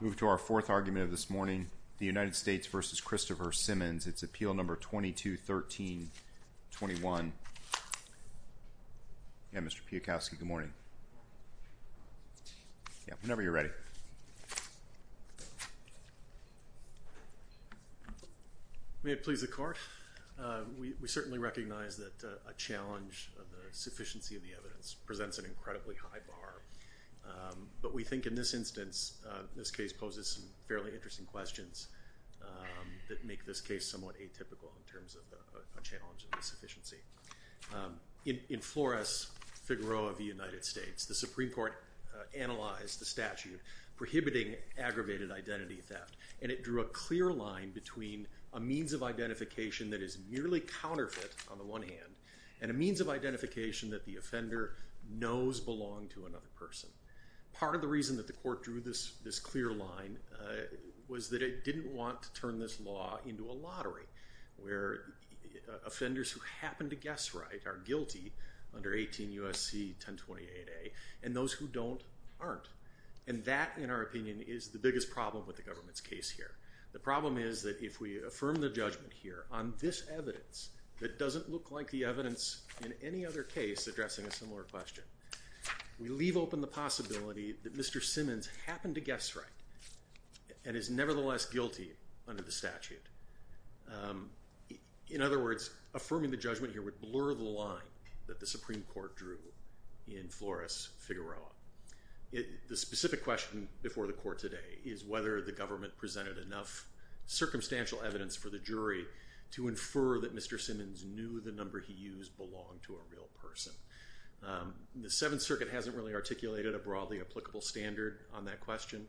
Move to our fourth argument of this morning, the United States v. Christopher Simmons, its appeal number 22-13-21. Yeah, Mr. Piotrkowski, good morning. Whenever you're ready. May it please the Court. We certainly recognize that a challenge of the sufficiency of the evidence presents an incredibly high bar. But we think in this instance, this case poses some fairly interesting questions that make this case somewhat atypical in terms of a challenge of the sufficiency. In Flores v. Figueroa v. United States, the Supreme Court analyzed the statute prohibiting aggravated identity theft, and it drew a clear line between a means of identification that is merely counterfeit, on the one hand, and a means of identification that the offender knows belonged to another person. Part of the reason that the Court drew this clear line was that it didn't want to turn this law into a lottery, where offenders who happen to guess right are guilty under 18 U.S.C. 1028a, and those who don't aren't. And that, in our opinion, is the biggest problem with the government's case here. The problem is that if we affirm the judgment here on this evidence that doesn't look like the evidence in any other case addressing a similar question, we leave open the possibility that Mr. Simmons happened to guess right and is nevertheless guilty under the statute. In other words, affirming the judgment here would blur the line that the Supreme Court drew in Flores v. Figueroa. The specific question before the Court today is whether the government presented enough circumstantial evidence for the jury to infer that Mr. Simmons knew the number he used belonged to a real person. The Seventh Circuit hasn't really articulated a broadly applicable standard on that question.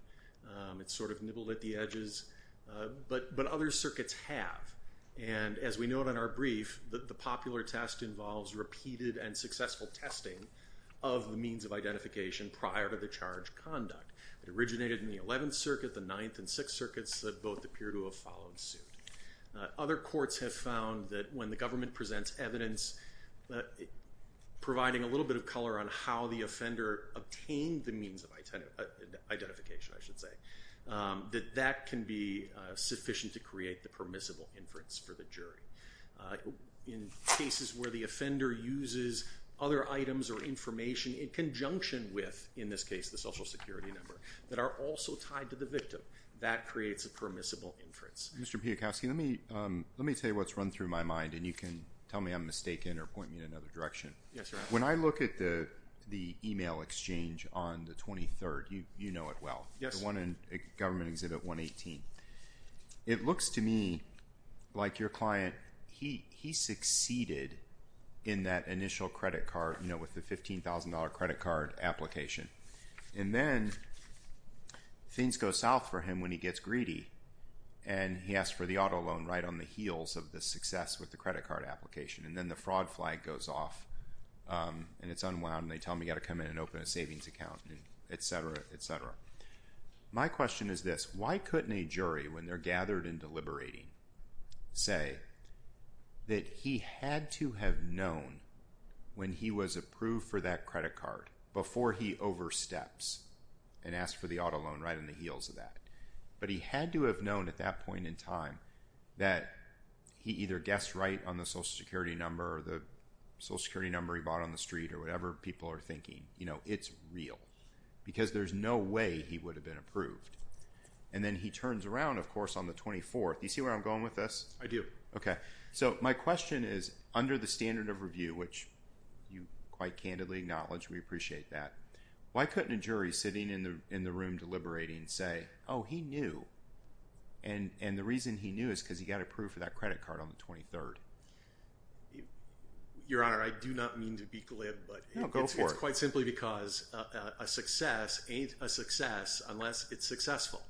It's sort of nibbled at the edges, but other circuits have. And as we note in our brief, the popular test involves repeated and successful testing of the means of identification prior to the charge conduct. It originated in the Eleventh Circuit, the Ninth, and Sixth Circuits. Both appear to have followed suit. Other courts have found that when the government presents evidence providing a little bit of color on how the offender obtained the means of identification, that that can be sufficient to create the permissible inference for the jury. In cases where the offender uses other items or information in conjunction with, in this case, the Social Security number that are also tied to the victim, that creates a permissible inference. Mr. Piotrkowski, let me tell you what's run through my mind, and you can tell me I'm mistaken or point me in another direction. When I look at the email exchange on the 23rd, you know it well, the one in Government Exhibit 118. It looks to me like your client, he succeeded in that initial credit card, you know, with the $15,000 credit card application. And then things go south for him when he gets greedy, and he asks for the auto loan right on the heels of the success with the credit card application. And then the fraud flag goes off, and it's unwound, and they tell him he's got to come in and open a savings account, et cetera, et cetera. My question is this. Why couldn't a jury, when they're gathered and deliberating, say that he had to have known when he was approved for that credit card before he oversteps and asks for the auto loan right on the heels of that. But he had to have known at that point in time that he either guessed right on the Social Security number, or the Social Security number he bought on the street, or whatever people are thinking, you know, it's real. Because there's no way he would have been approved. And then he turns around, of course, on the 24th. Do you see where I'm going with this? I do. Okay. So my question is, under the standard of review, which you quite candidly acknowledge, we appreciate that, why couldn't a jury sitting in the room deliberating say, oh, he knew. And the reason he knew is because he got approved for that credit card on the 23rd. Your Honor, I do not mean to be glib. No, go for it. It's quite simply because a success ain't a success unless it's successful.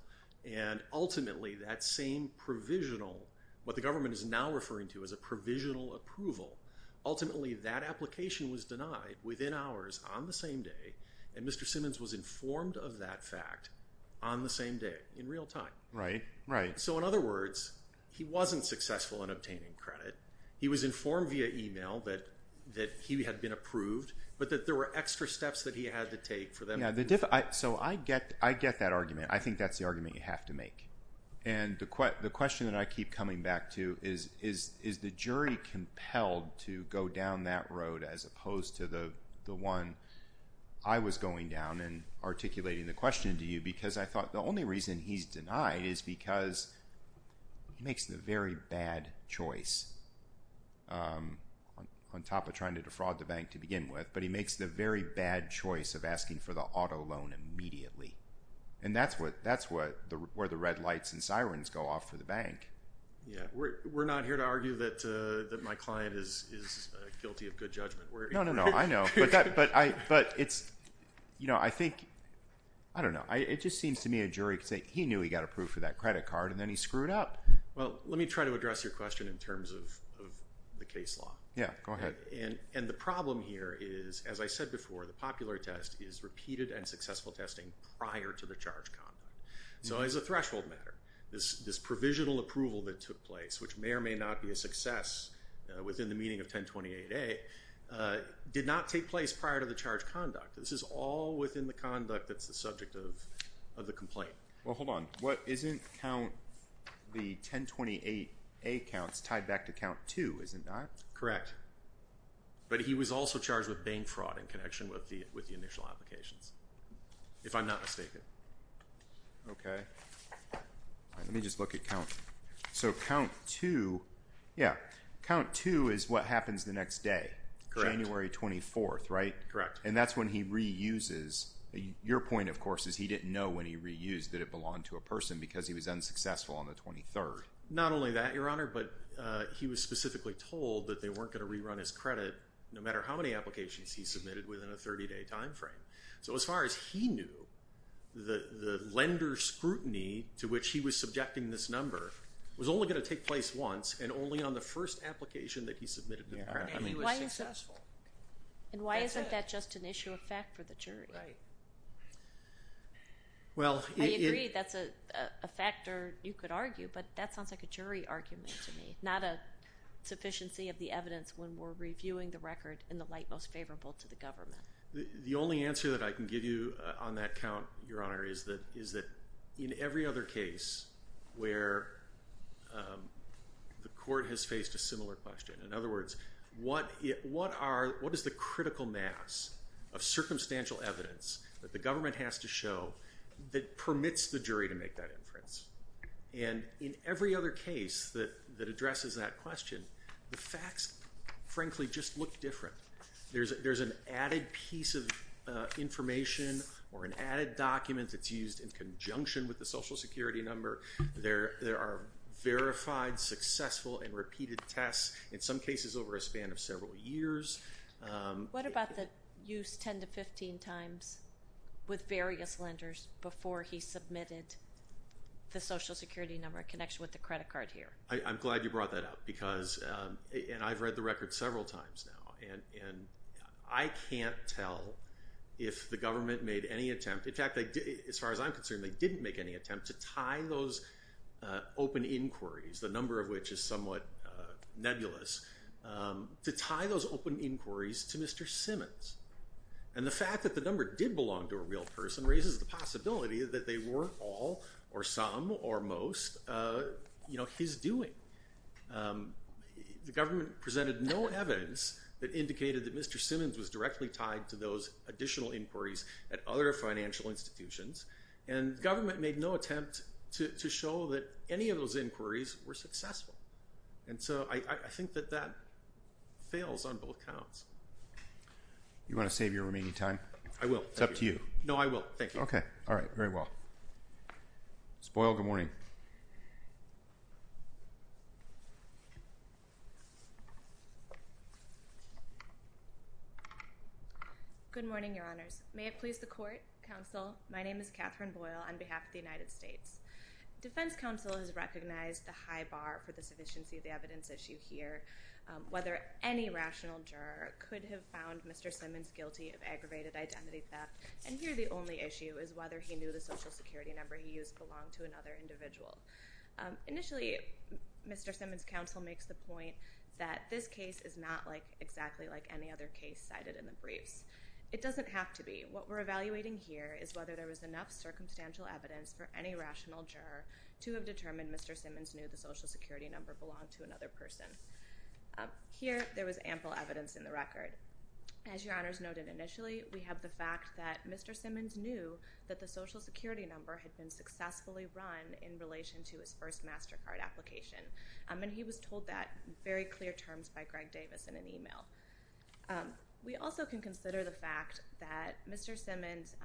And ultimately, that same provisional, what the government is now referring to as a provisional approval, ultimately that application was denied within hours on the same day, and Mr. Simmons was informed of that fact on the same day in real time. Right, right. So in other words, he wasn't successful in obtaining credit. He was informed via email that he had been approved, but that there were extra steps that he had to take for them to be approved. So I get that argument. I think that's the argument you have to make. And the question that I keep coming back to is, is the jury compelled to go down that road as opposed to the one I was going down and articulating the question to you because I thought the only reason he's denied is because he makes the very bad choice on top of trying to defraud the bank to begin with, but he makes the very bad choice of asking for the auto loan immediately. And that's where the red lights and sirens go off for the bank. Yeah. We're not here to argue that my client is guilty of good judgment. No, no, no. I know. But it's, you know, I think, I don't know. It just seems to me a jury could say he knew he got approved for that credit card and then he screwed up. Well, let me try to address your question in terms of the case law. Yeah. Go ahead. And the problem here is, as I said before, the popular test is repeated and successful testing prior to the charged conduct. So as a threshold matter, this provisional approval that took place, which may or may not be a success within the meaning of 1028A, did not take place prior to the charged conduct. This is all within the conduct that's the subject of the complaint. Well, hold on. Isn't count the 1028A counts tied back to count two, is it not? Correct. But he was also charged with bank fraud in connection with the initial applications, if I'm not mistaken. Okay. Let me just look at count. So count two, yeah, count two is what happens the next day. Correct. January 24th, right? Correct. And that's when he reuses. Your point, of course, is he didn't know when he reused that it belonged to a person because he was unsuccessful on the 23rd. Not only that, Your Honor, but he was specifically told that they weren't going to rerun his credit no matter how many applications he submitted within a 30-day timeframe. So as far as he knew, the lender's scrutiny to which he was subjecting this number was only going to take place once and only on the first application that he submitted. And he was successful. And why isn't that just an issue of fact for the jury? Right. I agree that's a factor you could argue, but that sounds like a jury argument to me, not a sufficiency of the evidence when we're reviewing the record in the light most favorable to the government. The only answer that I can give you on that count, Your Honor, is that in every other case where the court has faced a similar question, in other words, what is the critical mass of circumstantial evidence that the government has to show that permits the jury to make that inference? And in every other case that addresses that question, the facts frankly just look different. There's an added piece of information or an added document that's used in conjunction with the Social Security number. There are verified, successful, and repeated tests, in some cases over a span of several years. What about the use 10 to 15 times with various lenders before he submitted the Social Security number in connection with the credit card here? I'm glad you brought that up because, and I've read the record several times now, and I can't tell if the government made any attempt. In fact, as far as I'm concerned, they didn't make any attempt to tie those open inquiries, the number of which is somewhat nebulous, to tie those open inquiries to Mr. Simmons. And the fact that the number did belong to a real person raises the possibility that they were all or some or most his doing. The government presented no evidence that indicated that Mr. Simmons was directly tied to those additional inquiries at other financial institutions, and the government made no attempt to show that any of those inquiries were successful. And so I think that that fails on both counts. You want to save your remaining time? I will. It's up to you. No, I will. Thank you. Okay. Very well. Ms. Boyle, good morning. Good morning, Your Honors. May it please the Court, Counsel, my name is Catherine Boyle on behalf of the United States. Defense Counsel has recognized the high bar for the sufficiency of the evidence issue here, whether any rational juror could have found Mr. Simmons guilty of sexual assault. Here, the only issue is whether he knew the social security number he used belonged to another individual. Initially, Mr. Simmons' counsel makes the point that this case is not like exactly like any other case cited in the briefs. It doesn't have to be. What we're evaluating here is whether there was enough circumstantial evidence for any rational juror to have determined Mr. Simmons knew the Here, there was ample evidence in the record. As Your Honors noted initially, we have the fact that Mr. Simmons knew that the social security number had been successfully run in relation to his first MasterCard application. And he was told that in very clear terms by Greg Davis in an email. We also can consider the fact that Mr. Simmons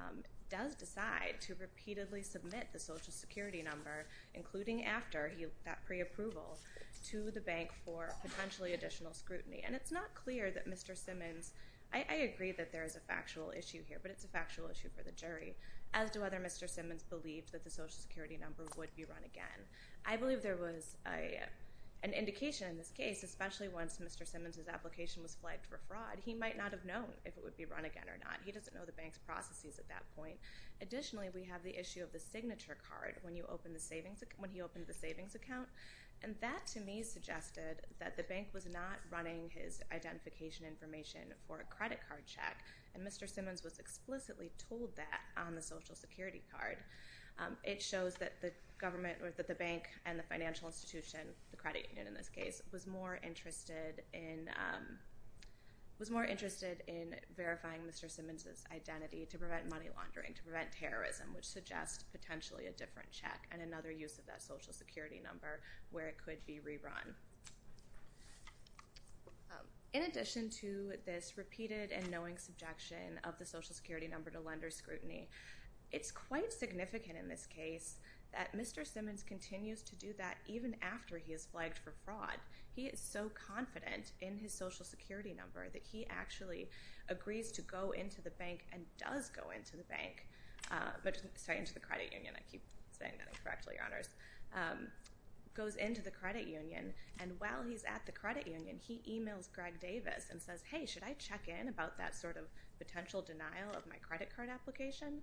does decide to repeatedly submit the social security number, including after that pre-approval, to the bank for potentially additional scrutiny. And it's not clear that Mr. Simmons... I agree that there is a factual issue here, but it's a factual issue for the jury, as to whether Mr. Simmons believed that the social security number would be run again. I believe there was an indication in this case, especially once Mr. Simmons' application was flagged for fraud, he might not have known if it would be run again or not. He doesn't know the bank's processes at that point. Additionally, we have the issue of the signature card when he opened the savings account. And that to me suggested that the bank was not running his identification information for a credit card check. And Mr. Simmons was explicitly told that on the social security card. It shows that the bank and the financial institution, the credit union in this case, was more interested in verifying Mr. Simmons' identity to prevent money laundering, to prevent terrorism, which suggests potentially a different check and another use of that social security number where it could be rerun. In addition to this repeated and knowing subjection of the social security number to lender scrutiny, it's quite significant in this case that Mr. Simmons continues to do that even after he is flagged for fraud. He is so confident in his social security number that he actually agrees to go into the bank and does go into the bank. Sorry, into the credit union. I keep saying that incorrectly, Your Honors. Goes into the credit union and while he's at the credit union, he emails Greg Davis and says, hey, should I check in about that sort of potential denial of my credit card application?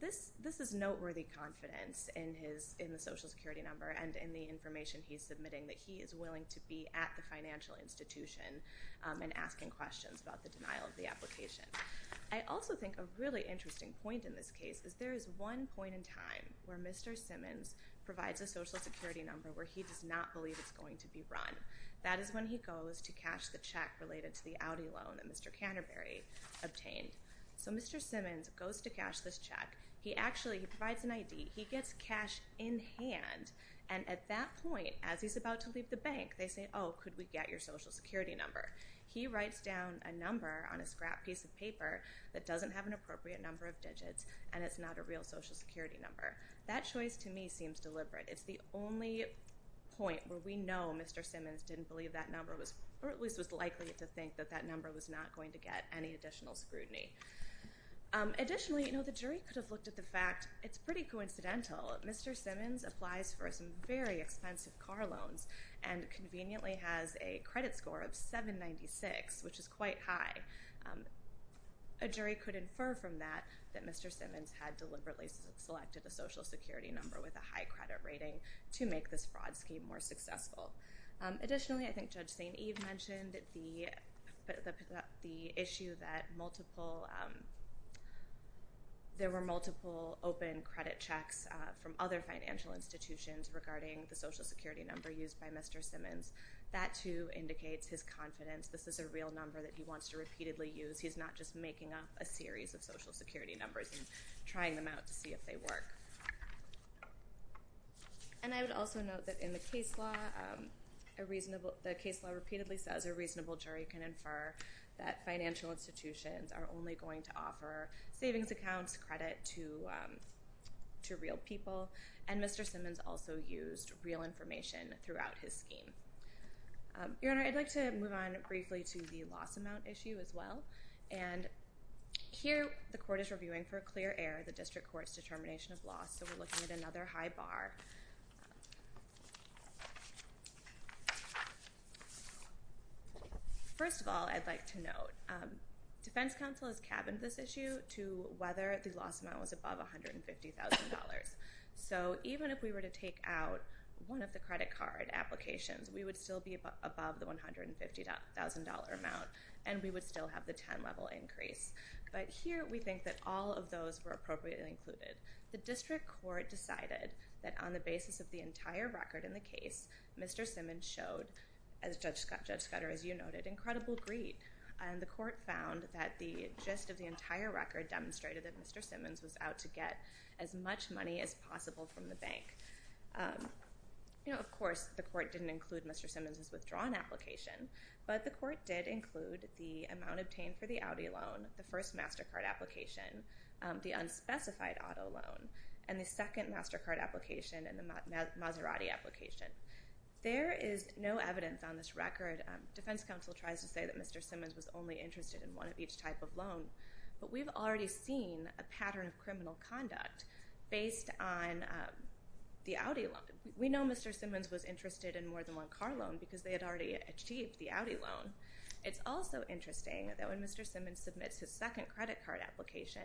This is noteworthy confidence in the social security number and in the information he's submitting that he is willing to be at the financial institution and asking questions about the denial of the application. I also think a really interesting point in this case is there is one point in time where Mr. Simmons provides a social security number where he does not believe it's going to be run. That is when he goes to cash the check related to the Audi loan that Mr. Canterbury obtained. So Mr. Simmons goes to cash this check. He actually provides an ID. He gets cash in hand and at that point, as he's about to leave the bank, they say, oh, could we get your social security number? He writes down a number on a scrap piece of paper that doesn't have an actual social security number. That choice to me seems deliberate. It's the only point where we know Mr. Simmons didn't believe that number or at least was likely to think that that number was not going to get any additional scrutiny. Additionally, the jury could have looked at the fact it's pretty coincidental. Mr. Simmons applies for some very expensive car loans and conveniently has a credit score of 796, which is quite high. A jury could infer from that that Mr. Simmons had deliberately selected a social security number with a high credit rating to make this fraud scheme more successful. Additionally, I think Judge St. Eve mentioned the issue that there were multiple open credit checks from other financial institutions regarding the social security number used by Mr. Simmons. That too indicates his confidence this is a real number that he wants to repeatedly use. He's not just making up a series of social security numbers and trying them out to see if they work. I would also note that in the case law, the case law repeatedly says a reasonable jury can infer that financial institutions are only going to offer savings accounts, credit to real people, and Mr. Simmons also used real information throughout his scheme. Your Honor, I'd like to move on briefly to the loss amount issue as well. Here, the court is reviewing for a clear error the district court's determination of loss, so we're looking at another high bar. First of all, I'd like to note, defense counsel has cabined this issue to whether the loss amount was above $150,000. Even if we were to take out one of the credit card applications, we would still be above the $150,000 amount and we would still have the 10-level increase. Here, we think that all of those were appropriately included. The district court decided that on the basis of the entire record in the case, Mr. Simmons showed, as Judge Scudder, as you noted, incredible greed. The court found that the gist of the entire record demonstrated that Mr. Simmons was trying to get as much money as possible from the bank. Of course, the court didn't include Mr. Simmons' withdrawn application, but the court did include the amount obtained for the Audi loan, the first MasterCard application, the unspecified auto loan, and the second MasterCard application and the Maserati application. There is no evidence on this record. Defense counsel tries to say that Mr. Simmons was only interested in one conduct based on the Audi loan. We know Mr. Simmons was interested in more than one car loan because they had already achieved the Audi loan. It's also interesting that when Mr. Simmons submits his second credit card application,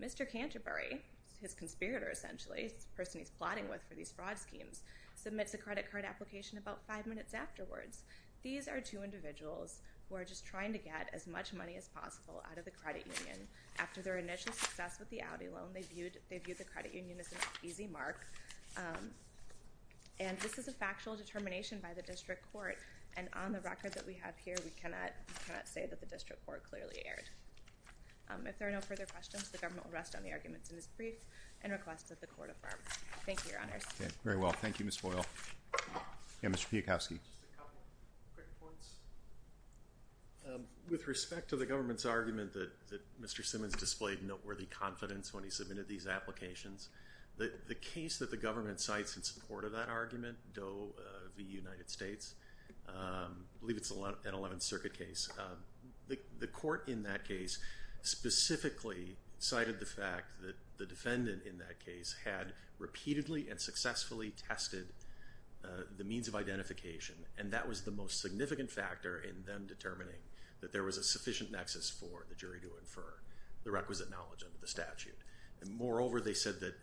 Mr. Canterbury, his conspirator essentially, the person he's plotting with for these fraud schemes, submits a credit card application about five minutes afterwards. These are two individuals who are just trying to get as much money as possible out of the credit union. After their initial success with the Audi loan, they viewed the credit union as an easy mark. And this is a factual determination by the district court. And on the record that we have here, we cannot say that the district court clearly erred. If there are no further questions, the government will rest on the arguments in this brief and request that the court affirm. Thank you, Your Honors. Okay. Very well. Thank you, Ms. Boyle. Yeah, Mr. Piekowski. Just a couple quick points. With respect to the government's argument that Mr. Simmons displayed noteworthy confidence when he submitted these applications, the case that the government cites in support of that argument, Doe v. United States, I believe it's an 11th Circuit case, the court in that case specifically cited the fact that the defendant in that case had repeatedly and successfully tested the means of identification. And that was the most significant factor in them determining that there was a sufficient nexus for the jury to infer the requisite knowledge of the statute. And moreover, they said that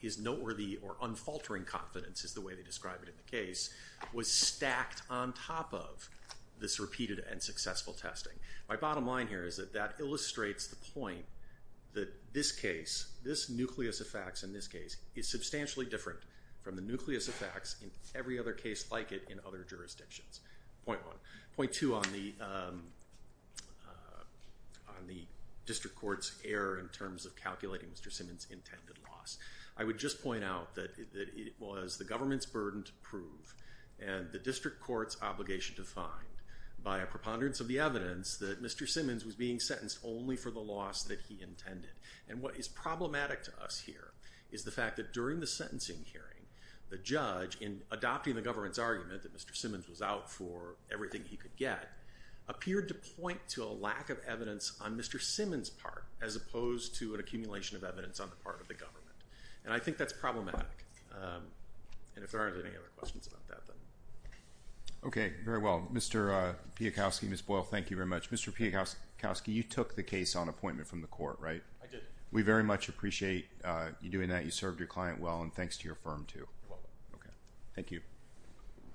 his noteworthy or unfaltering confidence, is the way they described it in the case, was stacked on top of this repeated and successful testing. My bottom line here is that that illustrates the point that this case, this nucleus of facts in this case, is substantially different from the other jurisdictions. Point one. Point two on the district court's error in terms of calculating Mr. Simmons' intended loss. I would just point out that it was the government's burden to prove and the district court's obligation to find by a preponderance of the evidence that Mr. Simmons was being sentenced only for the loss that he intended. And what is problematic to us here is the fact that during the sentencing hearing, the judge, in adopting the government's argument that Mr. Simmons was out for everything he could get, appeared to point to a lack of evidence on Mr. Simmons' part, as opposed to an accumulation of evidence on the part of the government. And I think that's problematic. And if there aren't any other questions about that, then. Okay. Very well. Mr. Piekowski, Ms. Boyle, thank you very much. Mr. Piekowski, you took the case on appointment from the court, right? I did. We very much appreciate you doing that. You served your client well, and thanks to your firm too. You're welcome. Okay. Thank you.